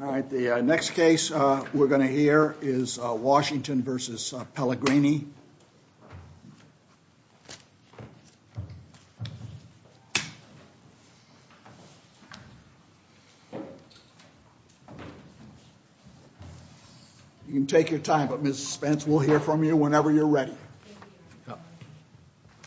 All right, the next case we're going to hear is Washington v. Pelligrini You can take your time, but Mrs. Spence will hear from you whenever you're ready All right, Mrs. Spence will hear from you whenever you're ready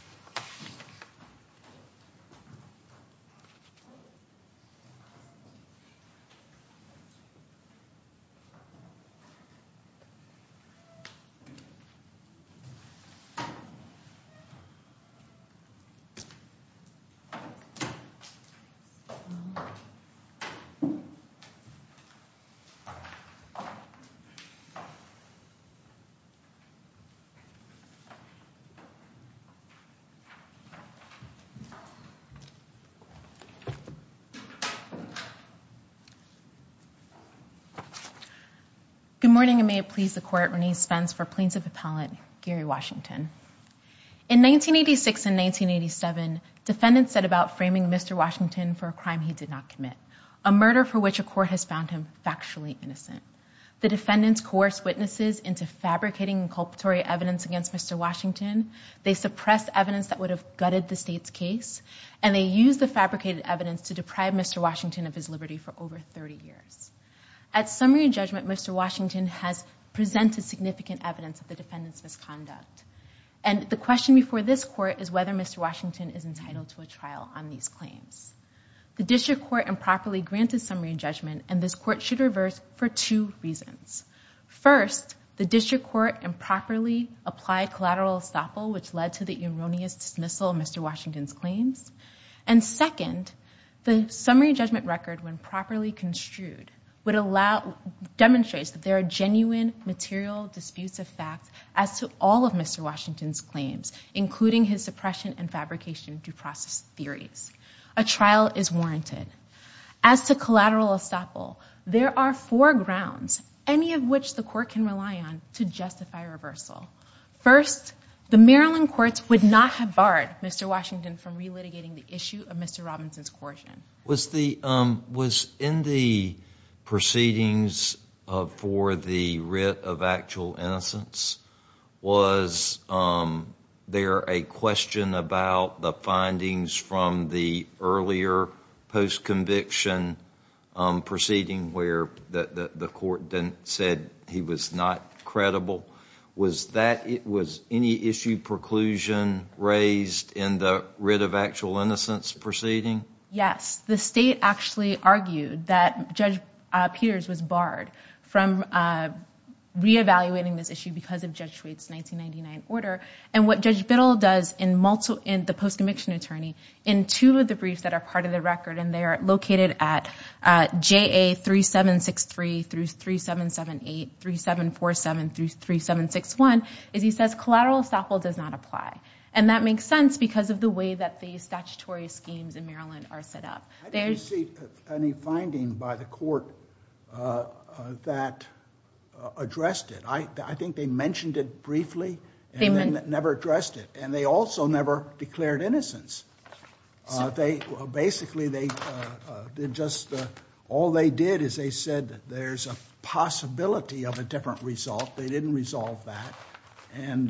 Good morning, and may it please the court, Renee Spence for Plaintiff Appellant Gary Washington In 1986 and 1987, defendants set about framing Mr. Washington for a crime he did not commit a murder for which a court has found him factually innocent. The defendants coerced witnesses into fabricating inculpatory evidence against Mr. Washington. They suppressed evidence that would have gutted the state's case, and they used the fabricated evidence to deprive Mr. Washington of his liberty for over 30 years. At summary judgment, Mr. Washington has presented significant evidence of the defendant's misconduct, and the question before this court is whether Mr. Washington is entitled to a trial on these claims. The district court improperly granted summary judgment, and this court should reverse for two reasons. First, the district court improperly applied collateral estoppel, which led to the erroneous dismissal of Mr. Washington's record when properly construed, would allow, demonstrates that there are genuine material disputes of fact as to all of Mr. Washington's claims, including his suppression and fabrication due process theories. A trial is warranted. As to collateral estoppel, there are four grounds, any of which the court can rely on, to justify reversal. First, the Maryland courts would not have barred Mr. Washington from relitigating the issue of Mr. Robinson's coercion. Was in the proceedings for the writ of actual innocence, was there a question about the findings from the earlier post-conviction proceeding where the court then said he was not credible? Was any issue preclusion raised in the writ of actual innocence proceeding? Yes. The state actually argued that Judge Peters was barred from re-evaluating this issue because of Judge Schwedt's 1999 order. And what Judge Biddle does in the post-conviction attorney, in two of the briefs that are part of the record, and they are located at JA 3763 through 3778, 3747 through 3761, is he says collateral estoppel does not apply. And that makes sense because of the way that the statutory schemes in Maryland are set up. I didn't see any finding by the court that addressed it. I think they mentioned it briefly and then never addressed it. And they also never declared innocence. Basically, all they did is they said there's a possibility of a different result. They didn't resolve that. And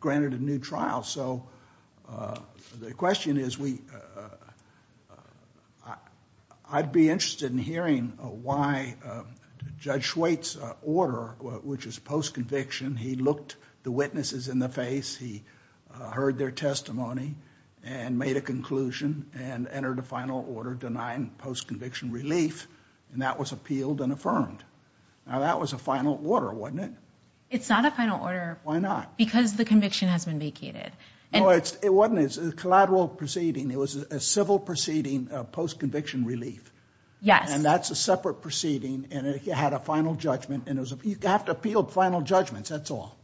granted a new trial. So the question is, I'd be interested in hearing why Judge Schwedt's order, which is post-conviction, he looked the witnesses in the face, he heard their testimony, and made a conclusion, and entered a final order denying post-conviction relief. And that was appealed and affirmed. Now that was a final order, wasn't it? It's not a final order. Why not? Because the conviction has been vacated. No, it wasn't. It's a collateral proceeding. It was a civil proceeding of post-conviction relief. Yes. And that's a separate proceeding. And it had a final judgment. And you have to appeal final judgments. That's all.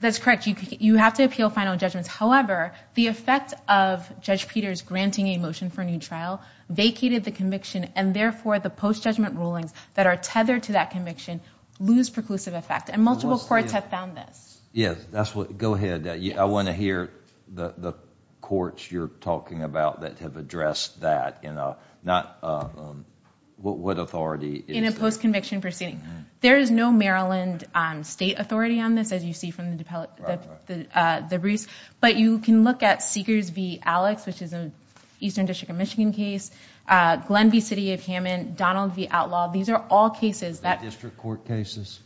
That's correct. You have to appeal final judgments. However, the effect of Judge Peters granting a motion for a new trial vacated the conviction, and therefore the post-judgment rulings that are tethered to that conviction lose preclusive effect. And multiple courts have found this. Yes. Go ahead. I want to hear the courts you're talking about that have addressed that. What authority is there? In a post-conviction proceeding. There is no Maryland state authority on this, as you see from the debriefs. But you can look at Seekers v. Alex, which is an Eastern District of Michigan case. Glenn v. City of Hammond. Donald v. Outlaw. These are all cases that... Are they district court cases?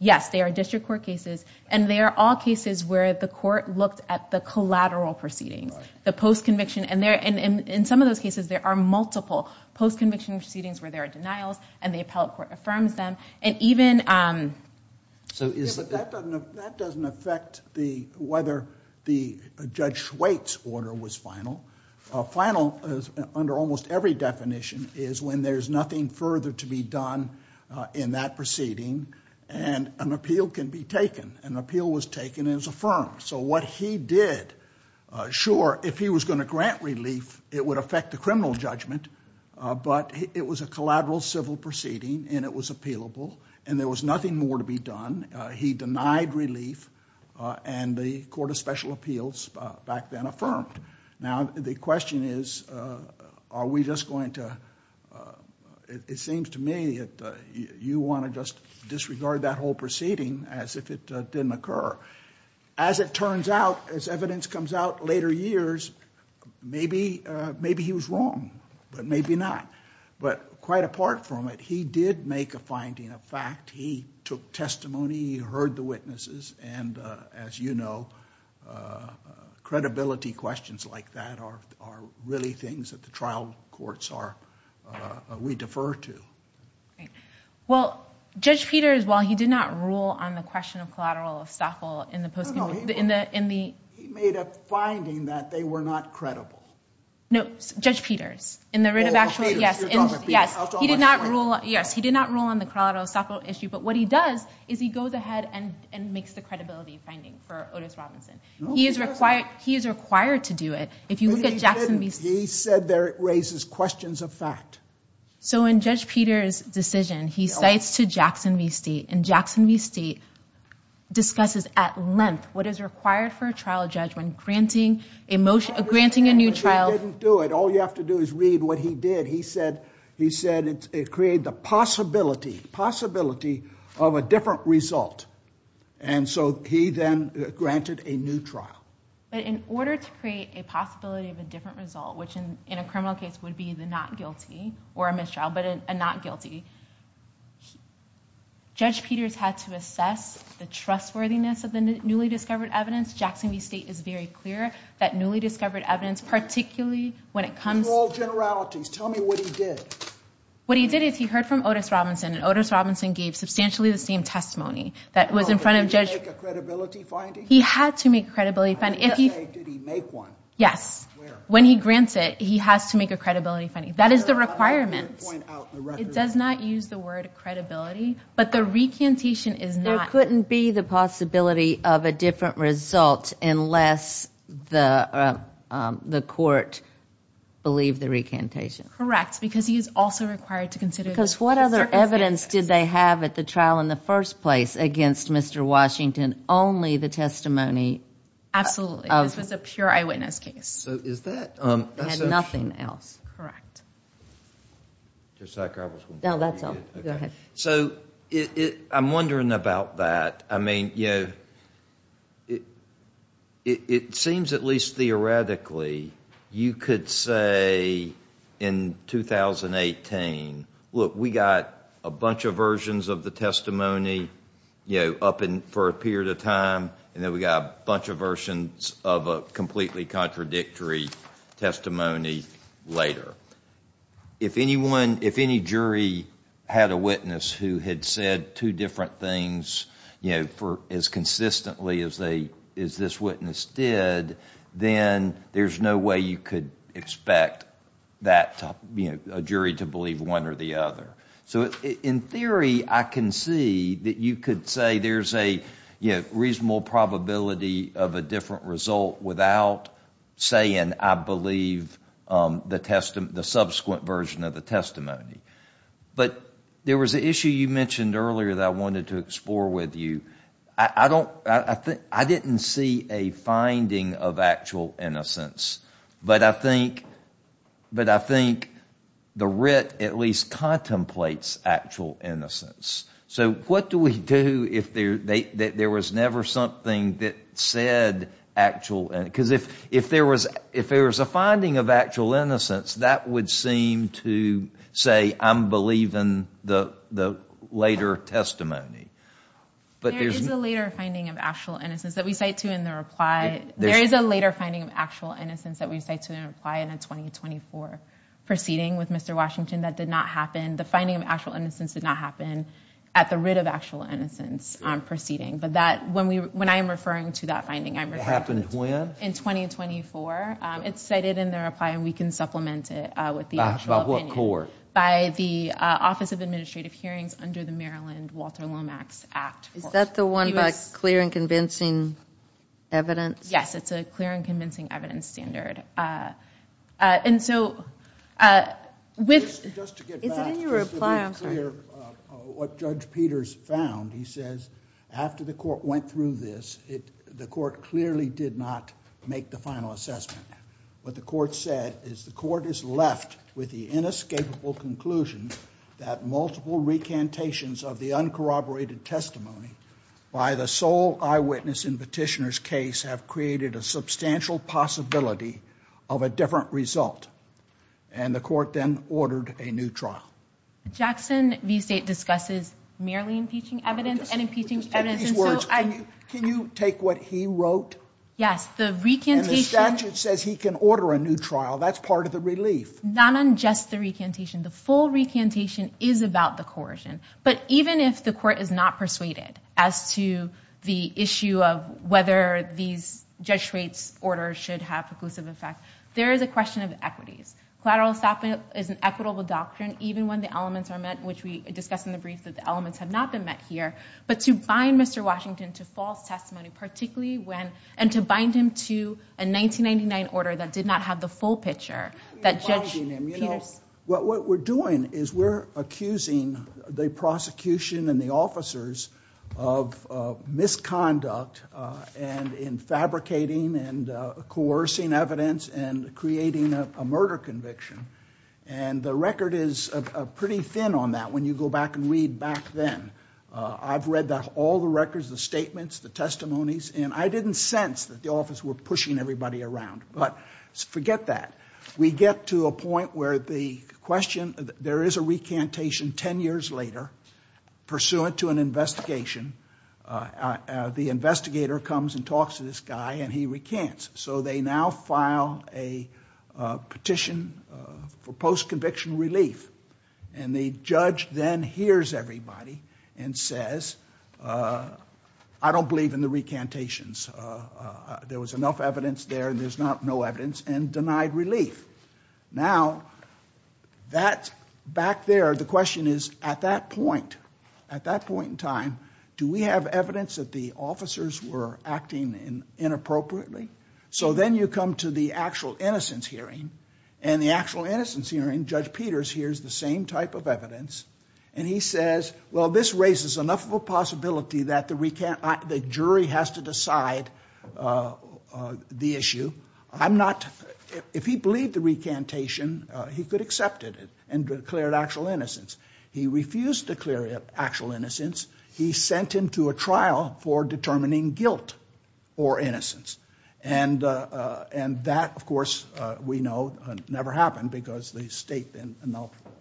Yes, they are district court cases. And they are all cases where the court looked at the collateral proceedings. The post-conviction. And in some of those cases, there are multiple post-conviction proceedings where there are denials, and the appellate court affirms them. And even... That doesn't affect whether Judge Schweitz's order was final. Final, under almost every definition, is when there's nothing further to be done in that proceeding, and an appeal can be taken. An appeal was taken and it was affirmed. So what he did, sure, if he was going to grant relief, it would affect the criminal judgment. But it was a collateral civil proceeding, and it was appealable, and there was nothing more to be done. He denied relief, and the Court of Special Appeals back then affirmed. Now, the question is, are we just going to... It seems to me that you want to just disregard that whole proceeding as if it didn't occur. As it turns out, as evidence comes out later years, maybe he was wrong, but maybe not. But quite apart from it, he did make a finding, a fact. He took testimony, he heard the witnesses, and as you know, credibility questions like that are really things that the trial courts are, we defer to. Well, Judge Peters, while he did not rule on the question of collateral estoppel in the post-conviction... No, no, he made a finding that they were not credible. No, Judge Peters, in the writ of actual... Yes, he did not rule, yes, he did not rule on the collateral estoppel issue, but what he does is he goes ahead and makes the credibility finding for Otis Robinson. He is required to do it. If you look at Jackson v. State... He said that it raises questions of fact. So in Judge Peters' decision, he cites to Jackson v. State, and Jackson v. State discusses at length what is required for a trial judge when granting a new trial... But he didn't do it. All you have to do is read what he did. He said it created the possibility of a different result, and so he then granted a new trial. But in order to create a possibility of a different result, which in a criminal case would be the not guilty, or a mistrial, but a not guilty, Judge Peters had to assess the trustworthiness of the newly discovered evidence. Jackson v. State is very clear that newly discovered evidence, particularly when it comes... In all generalities, tell me what he did. What he did is he heard from Otis Robinson, and Otis Robinson gave substantially the same testimony that was in front of Judge... Did he make a credibility finding? He had to make a credibility finding. Did he make one? Yes. When he grants it, he has to make a credibility finding. That is the requirement. It does not use the word credibility, but the recantation is not... There couldn't be the possibility of a different result unless the court believed the recantation. Correct, because he is also required to consider... Because what other evidence did they have at the trial in the first place against Mr. Washington? Only the testimony... Absolutely. This was a pure eyewitness case. So is that... They had nothing else. Correct. Judge Sack, I was wondering... No, that's all. Go ahead. So I'm wondering about that. I mean, you know, it seems at least theoretically you could say in 2018, look, we got a bunch of versions of the testimony, you know, up for a period of time, and then we got a bunch of versions of a completely contradictory testimony later. If any jury had a witness who had said two different things, you know, for as consistently as this witness did, then there's no way you could expect that, you know, a jury to believe one or the other. So in theory, I can see that you could say there's a, you know, reasonable probability of a different result without saying, I believe the subsequent version of the testimony. But there was an issue you mentioned earlier that I wanted to explore with you. I don't, I think, I didn't see a finding of actual innocence, but I think, but I think the writ at least contemplates actual innocence. So what do we do if there was never something that said actual... Because if there was a finding of actual innocence, that would seem to say, I'm believing the later testimony. But there's... There is a later finding of actual innocence that we cite to in the reply. There is a later finding of actual innocence that we cite to in a reply in a 2024 proceeding with Mr. Washington that did not happen. The finding of actual innocence did not happen at the writ of actual innocence proceeding. But that, when we, when I am referring to that finding, I'm referring... It happened when? In 2024. It's cited in the reply, and we can supplement it with the actual opinion. By what court? By the Office of Administrative Hearings under the Maryland Walter Lomax Act. Is that the one by clear and convincing evidence? Yes, it's a clear and convincing evidence standard. And so, with... Just to get back, just to be clear, what Judge Peters found, he says, after the court went through this, the court clearly did not make the final assessment. What the court said is the court is left with the inescapable conclusion that multiple recantations of the uncorroborated testimony by the sole eyewitness in Petitioner's case have created a substantial possibility of a different result. And the court then ordered a new trial. Jackson v. State discusses merely recantation of impeaching evidence and impeaching evidence. Can you take what he wrote? Yes, the recantation... And the statute says he can order a new trial. That's part of the relief. Not on just the recantation. The full recantation is about the coercion. But even if the court is not persuaded as to the issue of whether these Judge Schrade's orders should have conclusive effect, there is a question of equities. Collateral stopping is an equitable doctrine, even when the elements are met, which we discussed in the brief, that the elements have not been met here. But to bind Mr. Washington to false testimony, particularly when, and to bind him to a 1999 order that did not have the full picture that Judge Peters... What we're doing is we're accusing the prosecution and the officers of misconduct and in fabricating and coercing evidence and creating a murder conviction. And the record is pretty thin on that when you go back and read back then. I've read all the records, the statements, the testimonies, and I didn't sense that the office were pushing everybody around. But forget that. We get to a point where the question... There is a recantation 10 years later pursuant to an investigation. The investigator comes and talks to this guy and he recants. So they now file a petition for post-conviction relief. And the judge then hears everybody and says, I don't believe in the recantations. There was enough evidence there and there's not no evidence, and denied relief. Now, that back there, the question is at that point, at that point in time, do we have evidence that the officers were acting inappropriately? So then you come to the actual innocence hearing, and the actual innocence hearing, Judge Peters hears the same type of evidence. And he says, well, this raises enough of a possibility that the jury has to decide the issue. I'm not... If he believed the recantation, he could accept it and declare actual innocence. He refused to declare actual innocence. He sent him to a trial for determining guilt or innocence. And that, of course, we know never happened because the state then...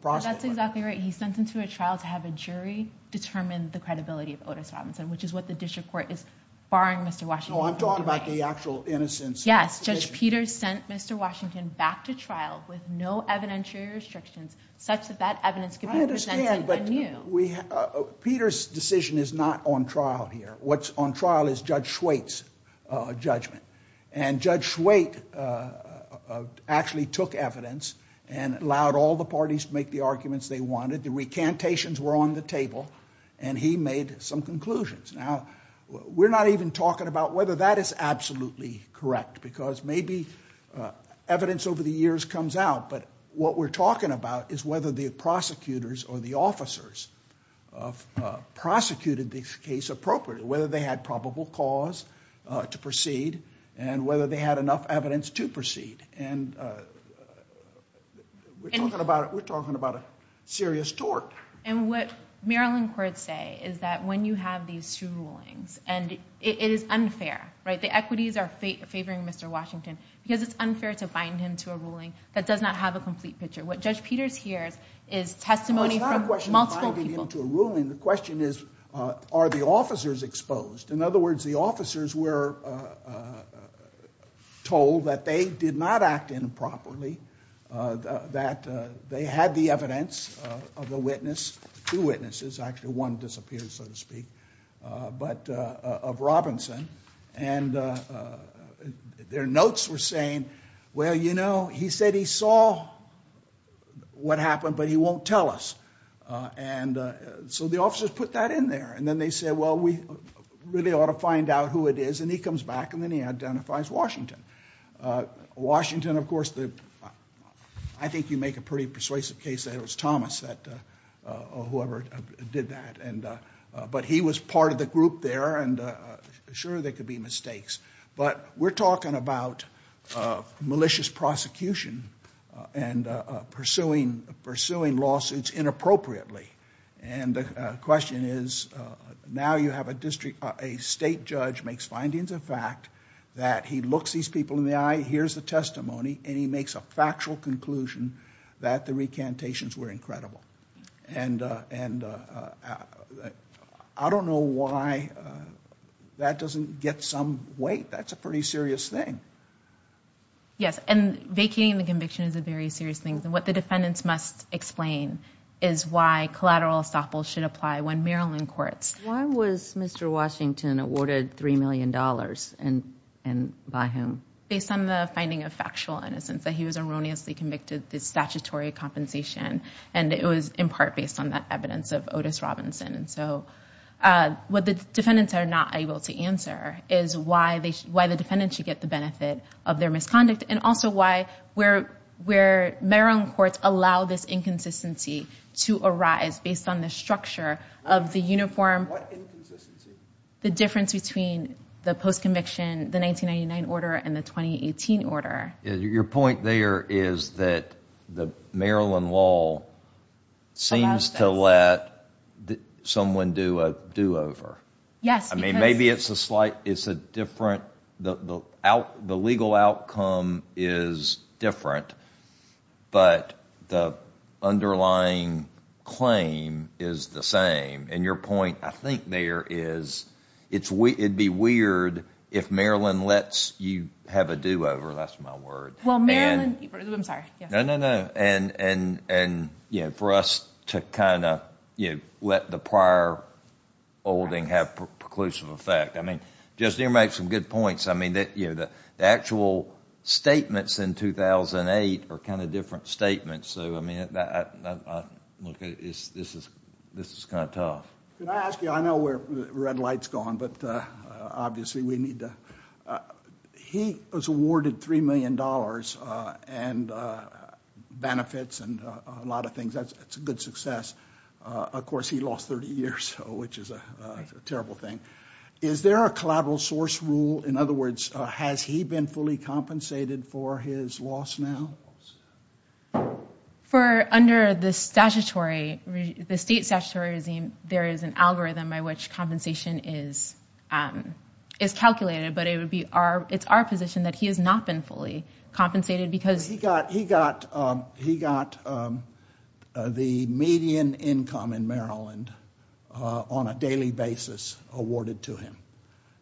That's exactly right. He sent him to a trial to have a jury determine the credibility of Otis Robinson, which is what the district court is barring Mr. Washington. No, I'm talking about the actual innocence. Yes. Judge Peters sent Mr. Washington back to trial with no evidentiary restrictions, such that that evidence could be presented anew. I understand, but Peter's decision is not on trial here. What's on trial is Judge Schwait's judgment. And Judge Schwait actually took evidence and allowed all the parties to make the arguments they wanted. The recantations were on the table, and he made some conclusions. Now, we're not even talking about whether that is absolutely correct, because maybe evidence over the years comes out. But what we're talking about is whether the prosecutors or the officers prosecuted this case appropriately, whether they had probable cause to proceed, and whether they had enough evidence to proceed. And we're talking about a serious tort. And what Maryland courts say is that when you have these two rulings, and it is unfair, the equities are favoring Mr. Washington, because it's unfair to bind him to a ruling that does not have a complete picture. What Judge Peters hears is testimony from multiple people. Well, it's not a question of binding him to a ruling. The question is, are the officers exposed? In other words, the officers were told that they did not act improperly, that they had the evidence of the witness, two witnesses, actually one disappeared, so to speak, but of Robinson. And their notes were saying, well, you know, he said he saw what happened, but he won't tell us. And so the officers put that in there. And then they said, well, we really ought to find out who it is. And he comes back, and then he identifies Washington. Washington, of course, I think you make a pretty persuasive case that it was Thomas, whoever did that. But he was part of the group there, and sure, there could be mistakes. But we're talking about malicious prosecution and pursuing lawsuits inappropriately. And the question is, now you have a state judge makes findings of fact that he looks these people in the eye, hears the testimony, and he makes a conclusion that the recantations were incredible. And I don't know why that doesn't get some weight. That's a pretty serious thing. Yes, and vacating the conviction is a very serious thing. And what the defendants must explain is why collateral estoppel should apply when Maryland courts. Why was Mr. Washington awarded $3 million and by whom? Based on the finding of factual innocence that he was erroneously convicted of statutory compensation. And it was in part based on that evidence of Otis Robinson. And so what the defendants are not able to answer is why the defendant should get the benefit of their misconduct and also why Maryland courts allow this inconsistency to arise based on the structure of the uniform. What inconsistency? The difference between the post-conviction, the 1999 order, and the 2018 order. Your point there is that the Maryland law seems to let someone do a do-over. I mean, maybe it's a slight, it's a different, the legal outcome is different, but the underlying claim is the same. And your point, I think there is, it'd be weird if Maryland lets you have a do-over. That's my word. Well, Maryland, I'm sorry. No, no, no. And for us to kind of let the prior holding have preclusive effect. I mean, just to make some good points, I mean, the actual statements in 2008 are kind of different statements. So, I mean, this is kind of tough. Can I ask you, I know where the red light's gone, but obviously we need to, he was awarded $3 million and benefits and a lot of things. That's a good success. Of course, he lost 30 years, which is a terrible thing. Is there a collateral source rule? In other words, has he been fully compensated for his loss now? For under the statutory, the state statutory regime, there is an algorithm by which compensation is calculated, but it would be our, it's our position that he has not been fully compensated because- He got the median income in Maryland on a daily basis awarded to him.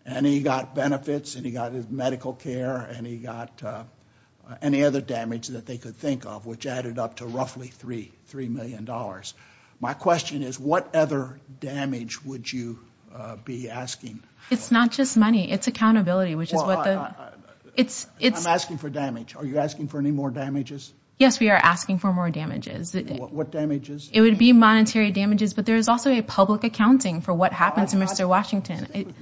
And he got benefits and he got his medical care and he got any other damage that they could think of, which added up to roughly $3 million. My question is, what other damage would you be asking? It's not just money, it's accountability, which is what the- Well, I'm asking for damage. Are you asking for any more damages? Yes, we are asking for more damages. What damages? It would be monetary damages, but there is also a public accounting for what happens in Mr. Washington.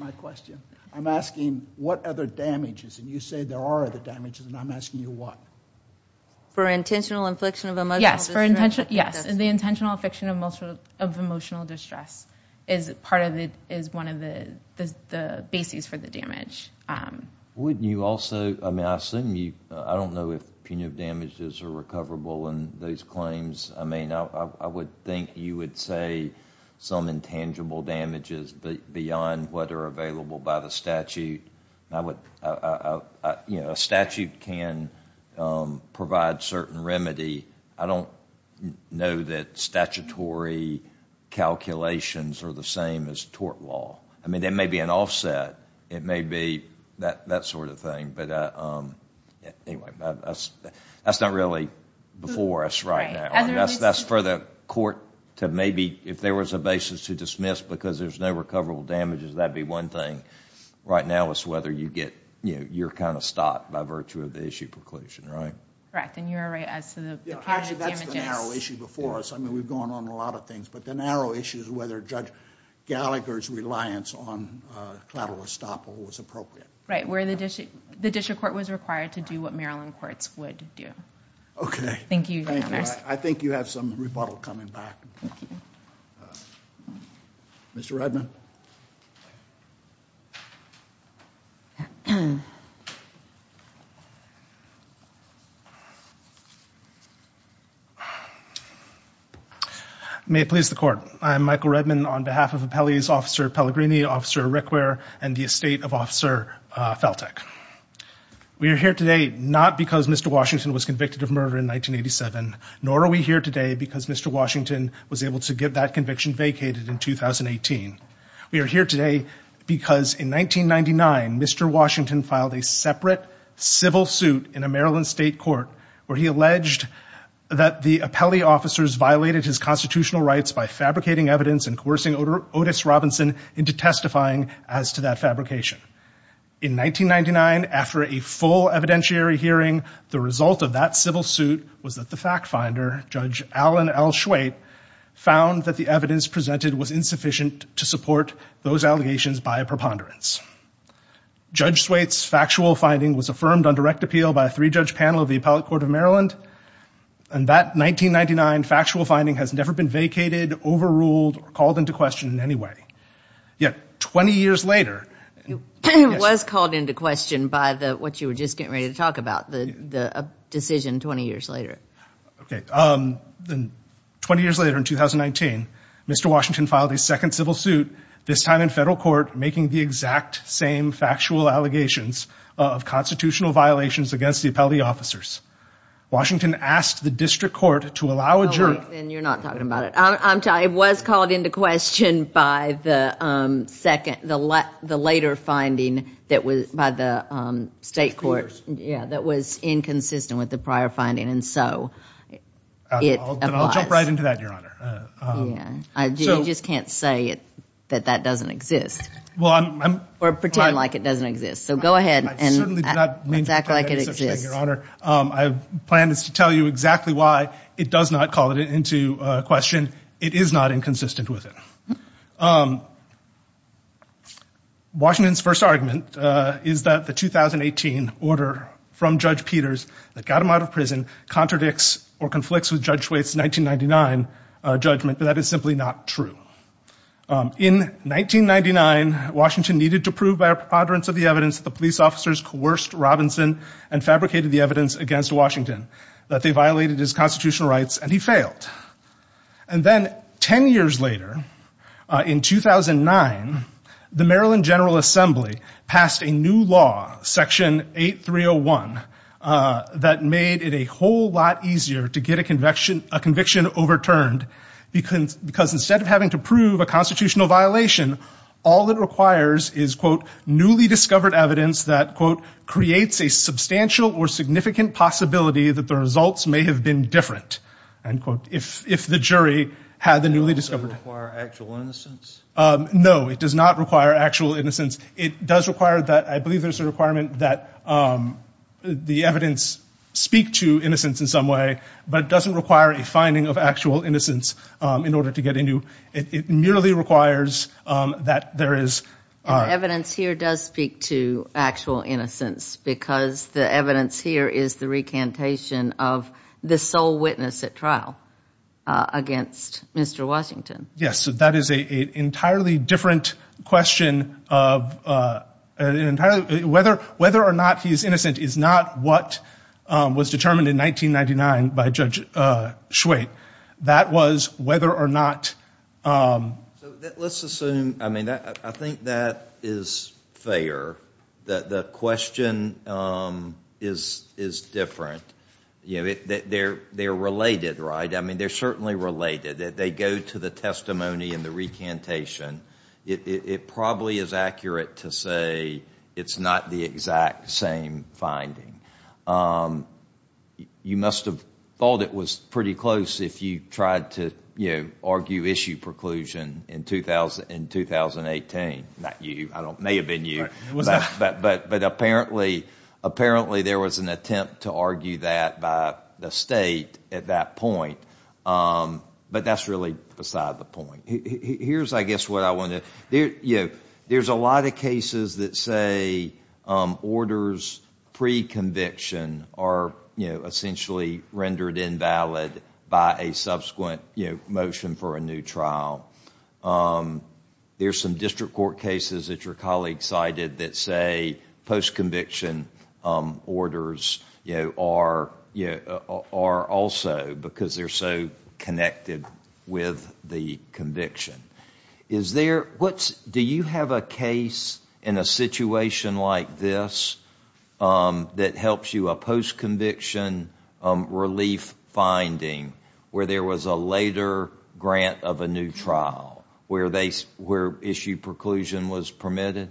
I'm asking, what other damages? And you say there are other damages, and I'm asking you what? For intentional infliction of emotional distress? Yes, for intentional, yes. The intentional infliction of emotional distress is part of the, is one of the bases for the damage. Wouldn't you also, I mean, I assume you, I don't know if punitive damages are recoverable in those claims. I mean, I would think you would say some intangible damages beyond what are available by the statute. I would, you know, a statute can provide certain remedy. I don't know that statutory calculations are the same as tort law. I mean, there may be an offset. It may be that sort of thing, but anyway, that's not really before us right now. That's for the court to maybe, if there was a basis to dismiss because there's no recoverable damages, that'd be one thing right now is whether you get, you know, you're kind of stopped by virtue of the issue preclusion, right? Correct, and you're right as to the punitive damages. Actually, that's the narrow issue before us. I mean, we've gone on a lot of things, but the narrow issue is whether Judge Gallagher's reliance on collateral estoppel was appropriate. Right, where the district court was required to do what Maryland courts would do. Okay. Thank you, Your Honors. I think you have some rebuttal coming back. Thank you. Mr. Redman. May it please the court. I'm Michael Redman on behalf of Appellee's Officer Pellegrini, Officer Rickwear, and the estate of Officer Feltek. We are here today not because Mr. Washington was convicted of murder in 1987, nor are we here today because Mr. Washington was able to get that conviction vacated in 2018. We are here today because in 1999, Mr. Washington filed a separate civil suit in a Maryland state court where he alleged that the appellee officers violated his constitutional rights by fabricating evidence and coercing Otis Robinson into testifying as to that fabrication. In 1999, after a full evidentiary hearing, the result of that civil suit was that fact finder, Judge Alan L. Schwaite, found that the evidence presented was insufficient to support those allegations by a preponderance. Judge Swaite's factual finding was affirmed on direct appeal by a three-judge panel of the Appellate Court of Maryland, and that 1999 factual finding has never been vacated, overruled, or called into question in any way. Yet, 20 years later... It was called into question by what you were just getting ready to talk about, the decision 20 years later. Okay. 20 years later, in 2019, Mr. Washington filed a second civil suit, this time in federal court, making the exact same factual allegations of constitutional violations against the appellee officers. Washington asked the district court to allow a jury... You're not talking about it. I'm telling you, it was called into question by the later finding by the state court that was inconsistent with the prior finding, and so it applies. I'll jump right into that, Your Honor. You just can't say that that doesn't exist, or pretend like it doesn't exist. So go ahead and... I certainly do not mean to pretend that it doesn't exist, Your Honor. I plan to tell you exactly why it does not call it into question. It is not inconsistent with it. Washington's first argument is that the 2018 order from Judge Peters that got him out of prison contradicts or conflicts with Judge Schweitz' 1999 judgment, but that is simply not true. In 1999, Washington needed to prove by a preponderance of the evidence that the police officers coerced Robinson and fabricated the evidence against Washington, that they violated his constitutional rights, and he failed. And then 10 years later, in 2009, the Maryland General Assembly passed a new law, Section 8301, that made it a whole lot easier to get a conviction overturned, because instead of having to prove a constitutional violation, all it requires is, quote, newly discovered evidence that, quote, creates a substantial or significant possibility that the results may have been different, end quote, if the jury had the newly discovered... Does that require actual innocence? No, it does not require actual innocence. It does require that... I believe there's a requirement that the evidence speak to innocence in some way, but it doesn't require a finding of actual innocence in order to get a new... It merely requires that there is... And the evidence here does speak to actual innocence, because the evidence here is the recantation of the sole witness at trial against Mr. Washington. Yes, that is an entirely different question of... Whether or not he's innocent is not what was determined in 1999 by Judge Schwait. That was whether or not... So let's assume... I mean, I think that is fair, that the question is different. They're related, right? I mean, they're certainly related. They go to the testimony and the recantation. It probably is accurate to say it's not the exact same finding. You must have thought it was pretty close if you tried to argue issue preclusion in 2018. Not you. It may have been you, but apparently there was an attempt to argue that by the state at that point, but that's really beside the point. Here's, I guess, what I wanted to... There's a lot of cases that say orders pre-conviction are essentially rendered invalid by a subsequent motion for a new trial. There's some district court cases that your colleague cited that say post-conviction orders are also because they're so connected with the conviction. Is there... Do you have a case in a situation like this that helps you, a post-conviction relief finding, where there was a later grant of a new trial where issue preclusion was permitted?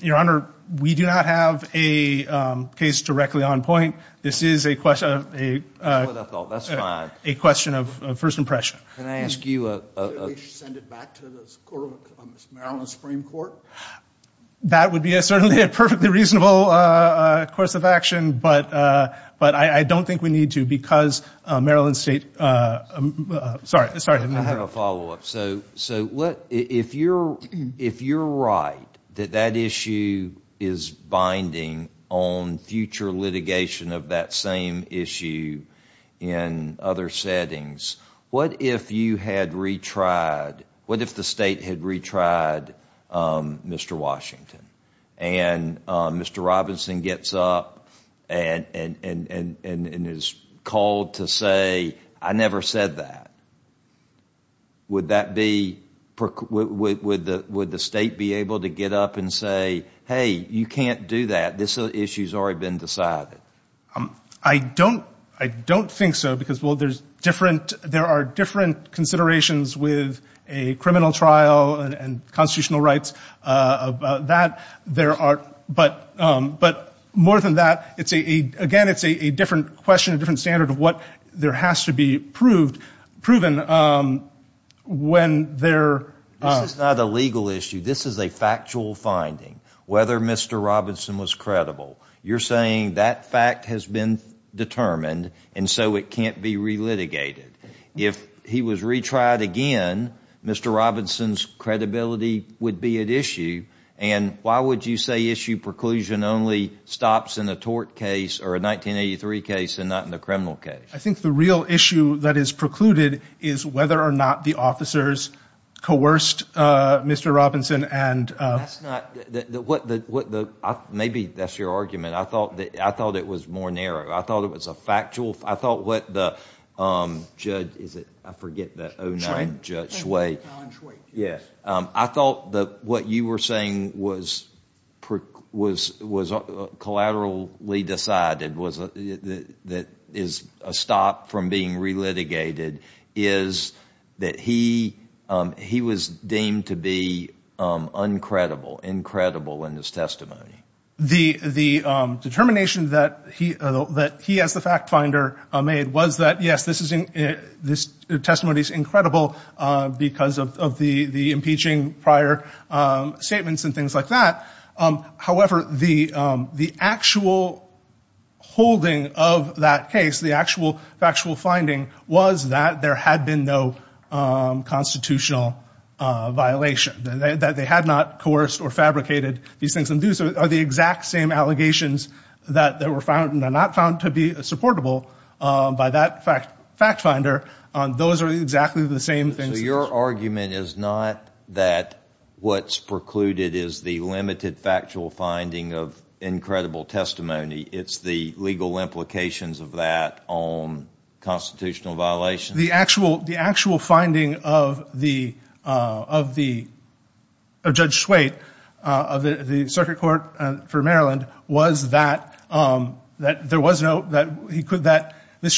Your Honor, we do not have a case directly on point. This is a question of a first impression. Can I ask you a... That would be certainly a perfectly reasonable course of action, but I don't think we need to because Maryland State... Sorry. I have a follow-up. If you're right that that issue is binding on future litigation of that same issue in other settings, what if you had retried... What if the state had retried Mr. Washington and Mr. Robinson gets up and is called to say, I never said that? Would that be... Would the state be able to get up and say, hey, you can't do that. This issue's already been decided? I don't think so because there are different considerations with a criminal trial and constitutional rights about that. But more than that, again, it's a different question, a different standard of what there has to be proven when there... This is not a legal issue. This is a factual finding, whether Mr. Robinson was credible. You're saying that fact has been determined, and so it can't be relitigated. If he was retried again, Mr. Robinson's credibility would be at issue. And why would you say issue preclusion only stops in a tort case or a 1983 case and not in a criminal case? I think the real issue that is precluded is whether or not the officers coerced Mr. Robinson and... Maybe that's your argument. I thought it was more narrow. I thought it was a factual... I thought what the judge... Is it... I forget that... I thought that what you were saying was collaterally decided that is a stop from being relitigated is that he was deemed to be uncredible, incredible in his testimony. The determination that he as the fact finder made was that, yes, this testimony is incredible because of the impeaching prior statements and things like that. However, the actual holding of that case, the actual factual finding was that there had been no constitutional violation, that they had not coerced or fabricated these things. And these are the exact same allegations that were found and are not found to be supportable by that fact finder. Those are exactly the same things. So your argument is not that what's precluded is the limited factual finding of incredible testimony. It's the legal implications of that on constitutional violations? The actual finding of Judge Swate of the Circuit Court for Maryland was that Mr.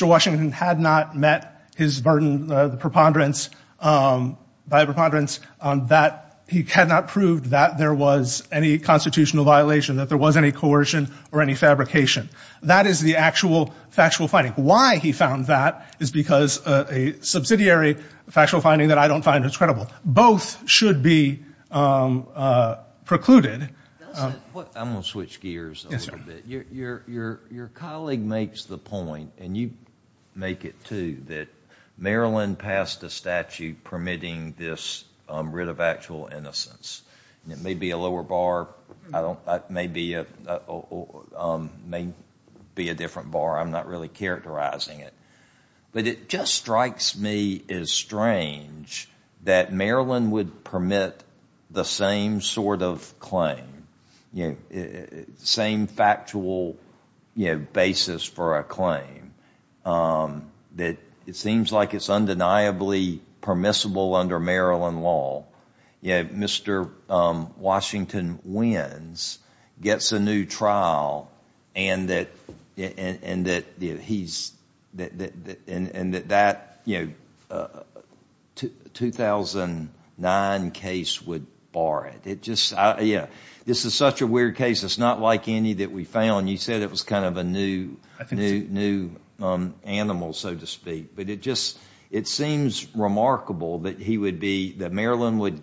Washington had not met his burden, the preponderance, that he had not proved that there was any constitutional violation, that there was any coercion or any fabrication. That is the actual factual finding. Why he found that is because a subsidiary factual finding that I don't find is credible. Both should be precluded. I'm going to switch gears a little bit. Your colleague makes the point, and you make it too, that Maryland passed a statute permitting this writ of actual innocence. It may be a lower bar. It may be a different bar. I'm not really characterizing it. But it just strikes me as strange that Maryland would permit the same sort of claim, same factual basis for a claim. It seems like it's undeniably permissible under Maryland law. Mr. Washington wins, gets a new trial, and that that 2009 case would bar it. This is such a weird case. It's not like any that we found. You said it was kind of a new animal, so to speak. But it seems remarkable that Maryland would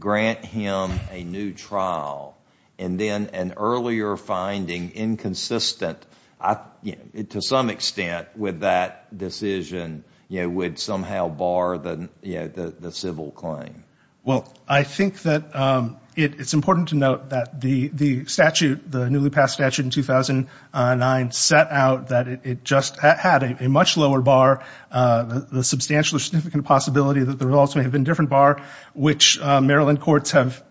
grant him a new trial, and then an earlier finding inconsistent to some extent with that decision would somehow bar the civil claim. Well, I think that it's important to note that the statute, the newly passed statute in 2009, set out that it just had a much lower bar, the substantial or significant possibility that the results may have been different bar, which Maryland courts have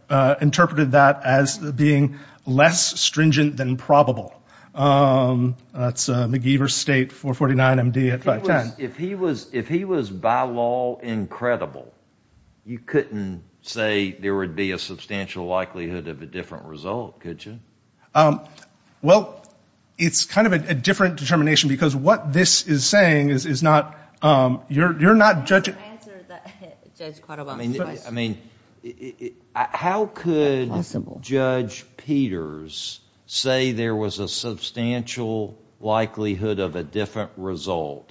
interpreted that as being less stringent than probable. That's McGeever State, 449 MD at 510. If he was by law incredible, you couldn't say there would be a substantial likelihood of a different result, could you? Well, it's kind of a different determination, because what this is saying is not, you're not judging. I mean, how could Judge Peters say there was a substantial likelihood of a different result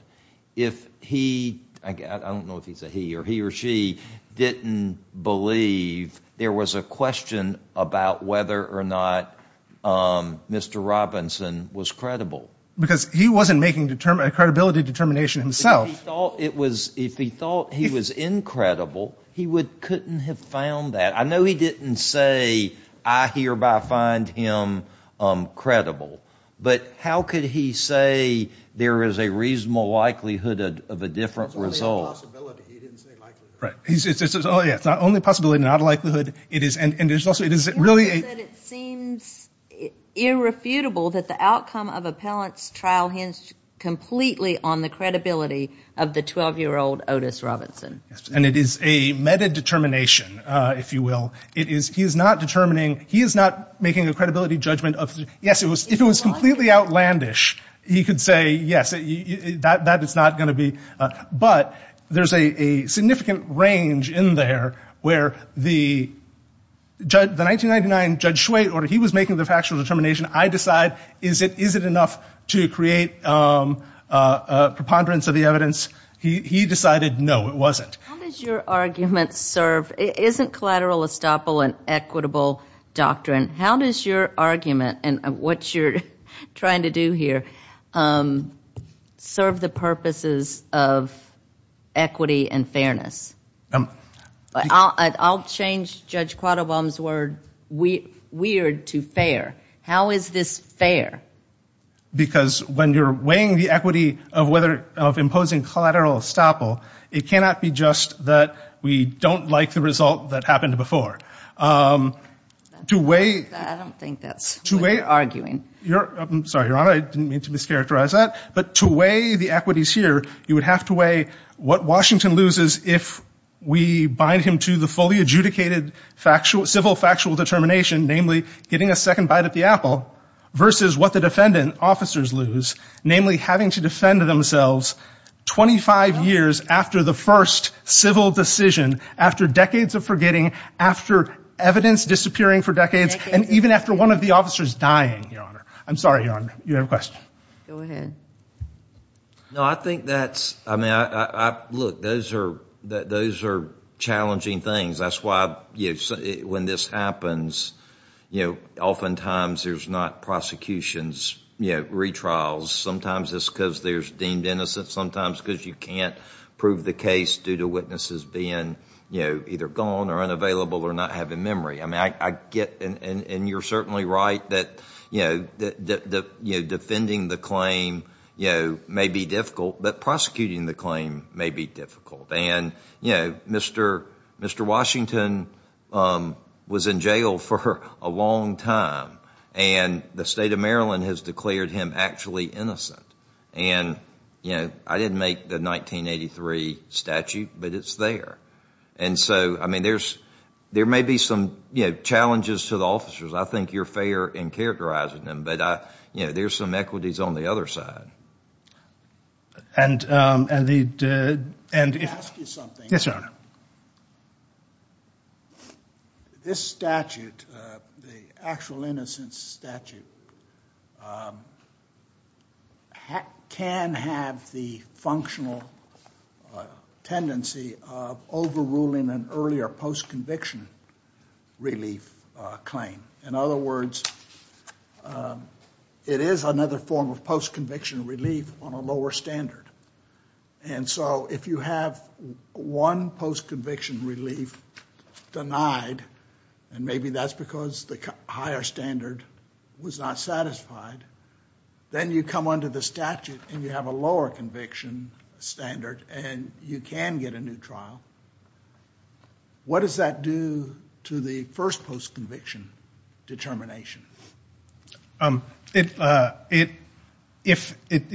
if he, I don't know if he's a he or he or she, didn't believe there was a question about whether or not Mr. Robinson was credible? Because he wasn't making a credibility determination himself. If he thought he was incredible, he couldn't have found that. I know he didn't say, I hereby find him credible. But how could he say there is a reasonable likelihood of a different result? It's not only a possibility, not a likelihood. It is really a... He said it seems irrefutable that the outcome of Appellant's trial hinged completely on the credibility of the 12-year-old Otis Robinson. And it is a meta-determination, if you will. He is not determining, he is not making a credibility judgment. Yes, if it was completely outlandish, he could say, yes, that is not going to be... But there is a significant range in there where the 1999 Judge Schweitzer, he was making the factual determination. I decide, is it enough to create preponderance of the evidence? He decided, no, it wasn't. How does your argument serve, isn't collateral estoppel an equitable doctrine? How does your argument and what you're trying to do here serve the purposes of equity and fairness? I'll change Judge Quattlebaum's word, weird, to fair. How is this fair? Because when you're weighing the equity of imposing collateral estoppel, it cannot be just that we don't like the result that happened before. To weigh... I don't think that's what you're arguing. I'm sorry, Your Honor, I didn't mean to mischaracterize that. But to weigh the equities here, you would have to weigh what Washington loses if we bind him to the fully adjudicated civil factual determination, namely getting a second bite at the apple, versus what the defendant officers lose, namely having to defend themselves 25 years after the first civil decision, after decades of forgetting, after evidence disappearing for decades, and even after one of the officers dying, Your Honor. I'm sorry, Your Honor, you have a question. Go ahead. No, I think that's... Look, those are challenging things. That's why when this happens, oftentimes there's not prosecutions, retrials. Sometimes it's because they're deemed innocent, sometimes because you can't prove the case due to witnesses being either gone or unavailable or not having memory. You're certainly right that defending the claim may be difficult, but prosecuting the claim may be difficult. Mr. Washington was in jail for a long time, and the state of Maryland has declared him actually innocent. I didn't make the 1983 statute, but it's there. And so, I mean, there may be some challenges to the officers. I think you're fair in characterizing them, but there's some equities on the other side. And the... Let me ask you something. Yes, Your Honor. This statute, the actual innocence statute can have the functional tendency of overruling an earlier post-conviction relief claim. In other words, it is another form of post-conviction relief on a lower standard. And so, if you have one post-conviction relief denied, and maybe that's because the higher standard was not satisfied, then you come under the statute and you have a lower conviction standard and you can get a new trial. What does that do to the first post-conviction determination? It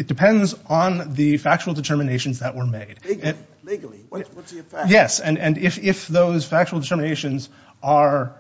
depends on the factual determinations that were made. Legally, what's the effect? Yes, and if those factual determinations are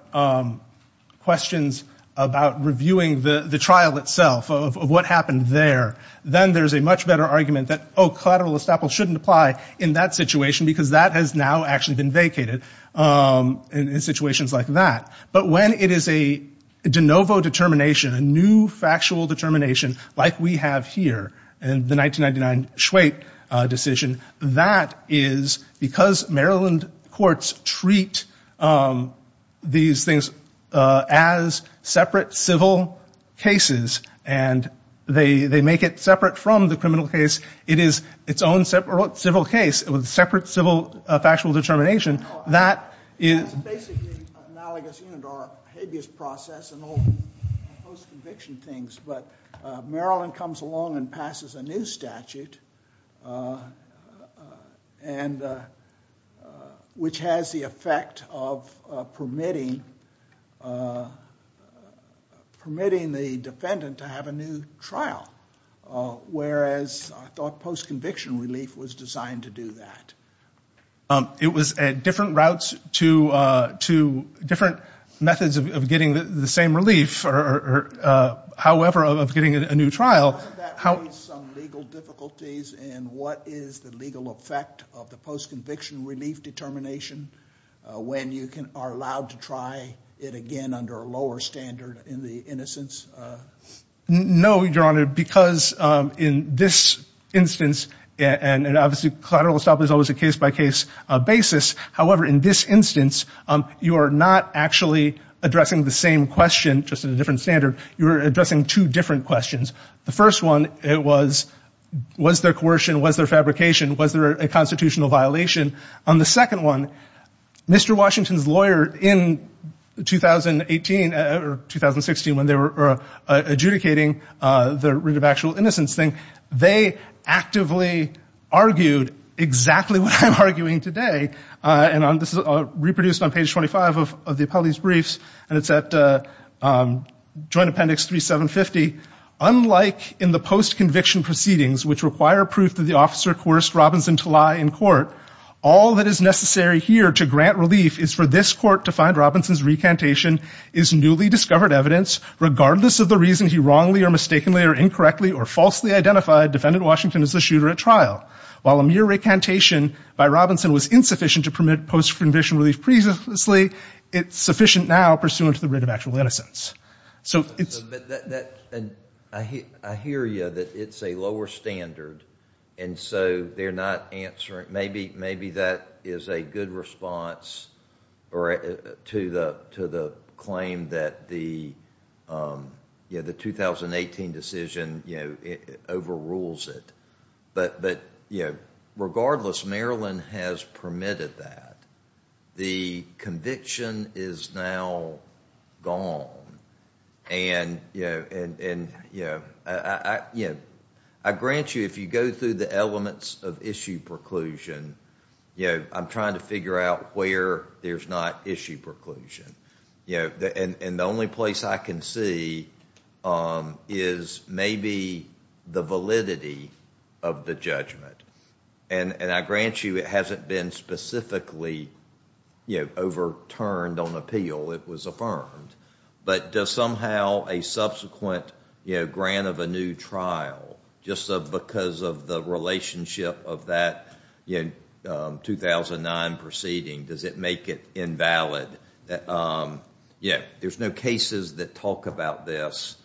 questions about reviewing the trial itself, of what happened there, then there's a much better argument that collateral estoppel shouldn't apply in that situation because that has now actually been vacated in situations like that. But when it is a de novo determination, a new factual determination, like we have here in the 1999 Schwate decision, that is because Maryland courts treat these things as separate civil cases, and they make it separate from the criminal case. It is its own separate civil case with separate civil factual determination. That is... It's basically analogous to our habeas process and all the post-conviction things, but Maryland comes along and passes a new statute, which has the effect of permitting the defendant to have a new trial, whereas I thought post-conviction relief was designed to do that. It was at different routes to different methods of getting the same relief, however, of getting a new trial. Doesn't that raise some legal difficulties in what is the legal effect of the post-conviction relief determination when you are allowed to try it again under a lower standard in the innocence? No, Your Honor, because in this instance, and obviously collateral estoppel is always a case-by-case basis, however, in this instance, you are not actually addressing the same question, just in a different standard. You are addressing two different questions. The first one, it was, was there coercion, was there fabrication, was there a constitutional violation? On the second one, Mr. Washington's lawyer in 2018 or 2016, when they were adjudicating the rig of actual innocence thing, they actively argued exactly what I'm arguing today, and this is reproduced on page 25 of the appellate's briefs, and it's at joint appendix 3750. Unlike in the post-conviction proceedings, which require proof that the officer coerced Robinson to lie in court, all that is necessary here to grant relief is for this court to find Robinson's recantation is newly discovered evidence, regardless of the reason he wrongly or mistakenly or incorrectly or falsely identified defendant Washington as the shooter at trial. While a mere recantation by Robinson was insufficient to permit post-conviction relief previously, it's sufficient now pursuant to the rig of actual innocence. So, I hear you that it's a lower standard, and so they're not answering, maybe that is a good response to the claim that the 2018 decision overrules it, but regardless, Maryland has permitted that. The conviction is now gone, and I grant you if you go through the elements of issue preclusion, I'm trying to figure out where there's not issue preclusion, and the only place I can see is maybe the validity of the judgment, and I grant you it hasn't been specifically overturned on appeal. It was affirmed, but does somehow a subsequent grant of a new trial, just because of the relationship of that 2009 proceeding, does it make it invalid? Yeah, there's no cases that talk about this,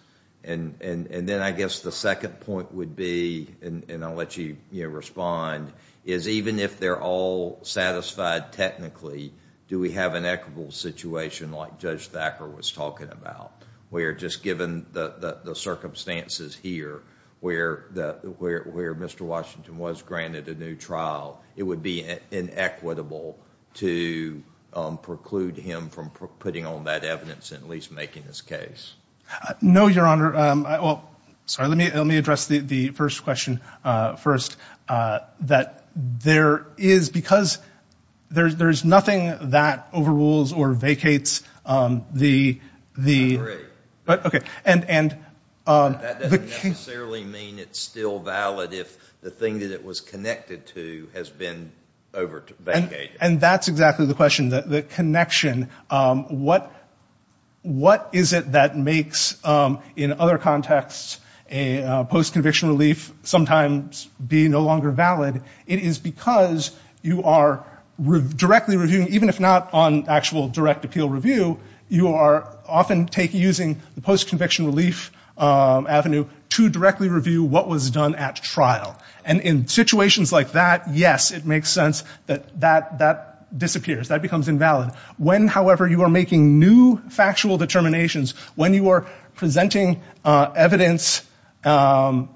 and then I guess the second point would be, and I'll let you respond, is even if they're all satisfied technically, do we have an equitable situation like Judge Thacker was talking about, where just given the circumstances here where where Mr. Washington was granted a new trial, it would be inequitable to preclude him from putting on that evidence and at least making his case? No, your honor. Well, sorry, let me address the first question first, that there is, because there's nothing that overrules or vacates the... I agree. That doesn't necessarily mean it's still valid if the thing that it was connected to has been over-vacated. And that's exactly the question, the connection. What is it that makes, in other contexts, a post-conviction relief sometimes be no longer valid? It is because you are directly reviewing, even if not on actual direct appeal review, you are often using the post-conviction relief avenue to directly review what was done at trial. And in situations like that, yes, it makes sense that that disappears, that becomes invalid. When, however, you are making new factual determinations, when you are presenting evidence and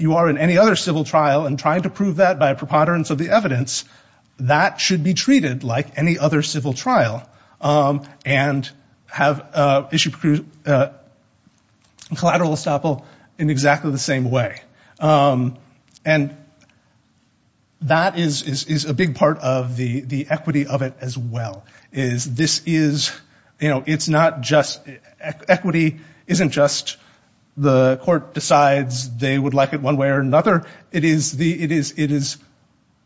you are in any other civil trial and trying to prove that by preponderance of the evidence, that should be treated like any other civil trial and have issued collateral estoppel in exactly the same way. And that is a big part of the equity of it as well, is this is, it's not just equity, isn't just the court decides they would like it one way or another. It is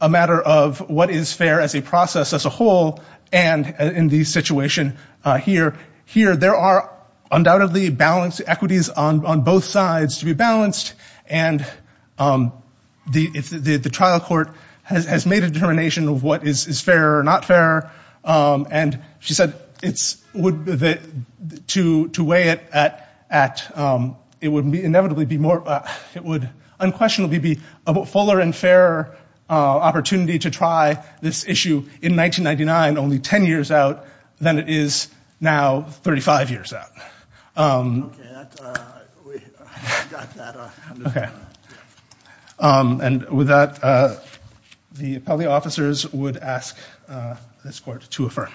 a matter of what is fair as a process as a whole. And in the situation here, there are undoubtedly balanced equities on both sides to be balanced. And the trial court has made a determination of what is fair or not fair. And she said it's, to weigh it at, it would inevitably be more, it would unquestionably be a fuller and fairer opportunity to try this issue in 1999, only 10 years out than it is now 35 years out. Okay, we got that. Okay. And with that, the appellee officers would ask this court to affirm.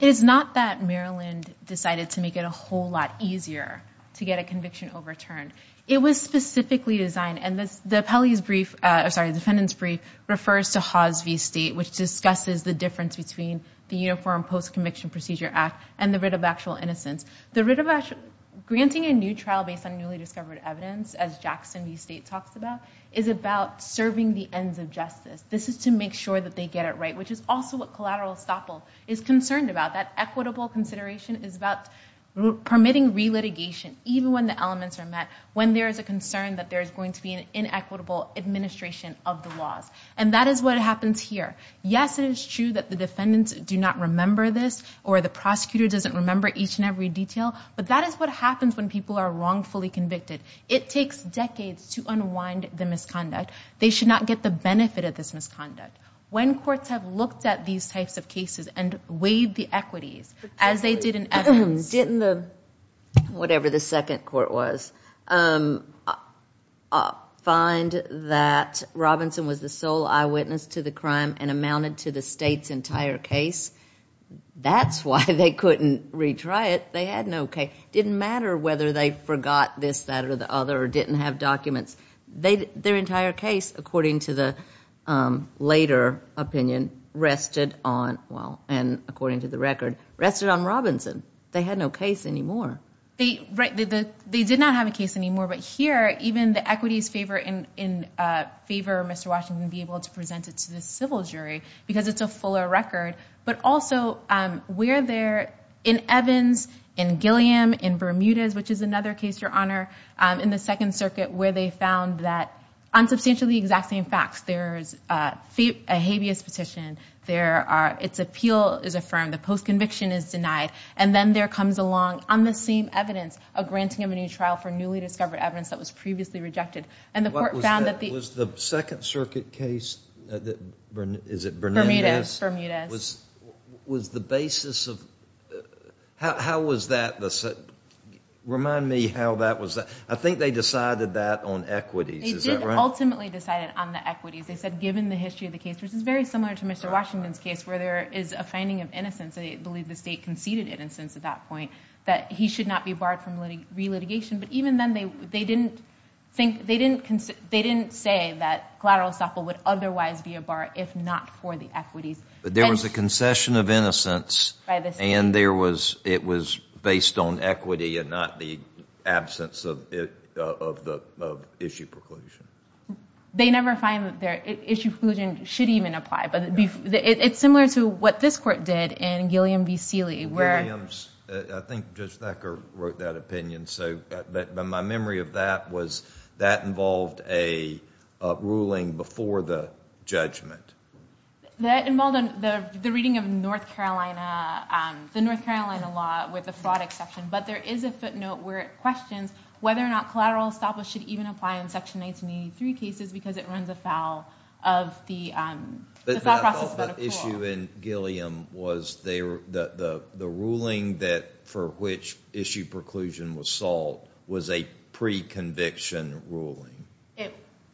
It is not that Maryland decided to make it a whole lot easier to get a conviction overturned. It was specifically designed, and this, the appellee's brief, sorry, defendant's brief refers to Hawes v. State, which discusses the difference between the Uniform Post-Conviction Procedure Act and the writ of actual innocence. The writ of actual, granting a new trial based on newly discovered evidence, as Jackson v. State talks about, is about serving the ends of justice. This is to make sure that they get it right, which is also what collateral estoppel is concerned about. That equitable consideration is about permitting re-litigation, even when the there is a concern that there is going to be an inequitable administration of the laws. And that is what happens here. Yes, it is true that the defendants do not remember this, or the prosecutor doesn't remember each and every detail, but that is what happens when people are wrongfully convicted. It takes decades to unwind the misconduct. They should not get the benefit of this misconduct. When courts have looked at these types of cases and weighed the as they did in evidence, didn't the, whatever the second court was, find that Robinson was the sole eyewitness to the crime and amounted to the State's entire case, that's why they couldn't retry it. They had no case. It didn't matter whether they forgot this, that, or the other, or didn't have documents. Their entire case, according to the later opinion, rested on, well, and according to the record, rested on Robinson. They had no case anymore. They did not have a case anymore, but here, even the equities in favor of Mr. Washington being able to present it to the civil jury, because it's a fuller record, but also where they're, in Evans, in Gilliam, in Bermudez, which is another case, Your Honor, in the Second Circuit, where they found that, on substantially the exact same facts, there's a habeas petition, there are, its appeal is affirmed, the post-conviction is denied, and then there comes along, on the same evidence, a granting of a new trial for newly discovered evidence that was previously rejected, and the court found that the- Was the Second Circuit case, is it Bermudez? Bermudez. Was the basis of, how was that, remind me how that was, I think they decided that on equities, is that right? They did ultimately decide it on the equities. They said given the history of the case, which is very similar to Mr. Washington's case, where there is a finding of innocence, I believe the state conceded innocence at that point, that he should not be barred from re-litigation, but even then, they didn't think, they didn't say that collateral estoppel would otherwise be a bar, if not for the equities. But there was a concession of innocence, and it was based on equity and not the absence of issue preclusion. They never find that their issue preclusion should even apply, but it's similar to what this court did in Gilliam v. Seeley, where- I think Judge Thacker wrote that opinion, so my memory of that was that involved a ruling before the judgment. That involved the reading of North Carolina, the North Carolina law with the fraud exception, but there is a footnote where it questions whether or not collateral estoppel should even apply in Section 1983 cases, because it runs afoul of the thought process. But the issue in Gilliam was the ruling that, for which issue preclusion was sought, was a pre-conviction ruling.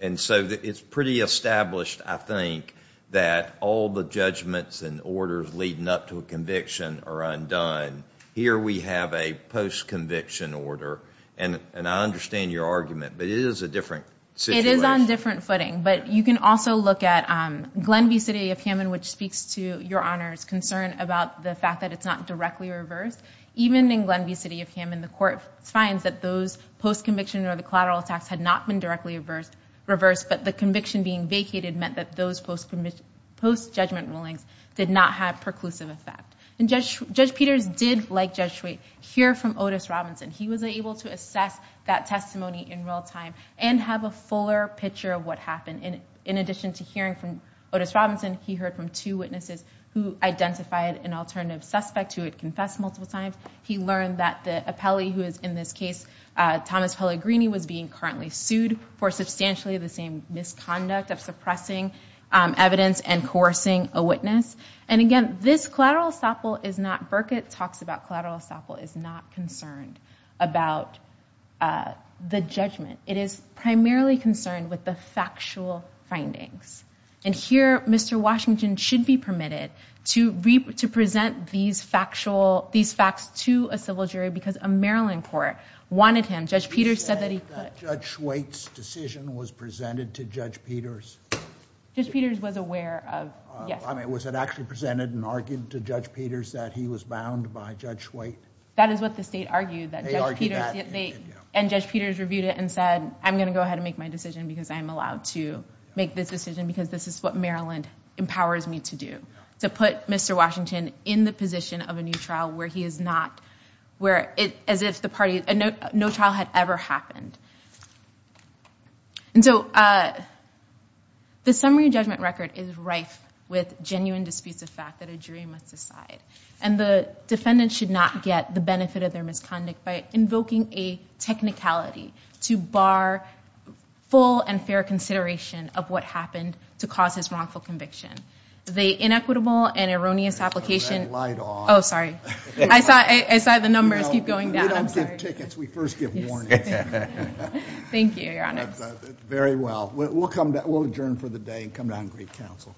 And so it's pretty established, I think, that all the judgments and orders leading up to a conviction are undone. Here we have a post-conviction order, and I understand your argument, but it is a different situation. It is on different footing, but you can also look at Glenview City of Hammond, which speaks to Your Honor's concern about the fact that it's not directly reversed. Even in Glenview City of Hammond, the post-conviction or the collateral tax had not been directly reversed, but the conviction being vacated meant that those post-judgment rulings did not have preclusive effect. And Judge Peters did, like Judge Shwait, hear from Otis Robinson. He was able to assess that testimony in real time and have a fuller picture of what happened. In addition to hearing from Otis Robinson, he heard from two witnesses who identified an alternative suspect who had Thomas Pellegrini was being currently sued for substantially the same misconduct of suppressing evidence and coercing a witness. And again, this collateral estoppel is not, Burkett talks about collateral estoppel, is not concerned about the judgment. It is primarily concerned with the factual findings. And here, Mr. Washington should be permitted to present these factual, these facts to a civil jury because a Maryland court wanted him. Judge Peters said that he could. Judge Shwait's decision was presented to Judge Peters? Judge Peters was aware of, yes. I mean, was it actually presented and argued to Judge Peters that he was bound by Judge Shwait? That is what the state argued. And Judge Peters reviewed it and said, I'm going to go ahead and make my decision because I'm allowed to make this decision because this is what Maryland empowers me to do, to put Mr. Washington in the position of a new trial where he is not, where it, as if the party, no trial had ever happened. And so the summary judgment record is rife with genuine disputes of fact that a jury must decide. And the defendant should not get the benefit of their misconduct by invoking a technicality to bar full and fair consideration of what happened to cause his wrongful conviction. The inequitable and erroneous application... Turn that light on. Oh, sorry. I saw the numbers keep going down. I'm sorry. We don't give tickets. We first give warnings. Thank you, Your Honor. Very well. We'll come, we'll adjourn for the day and come down and greet counsel.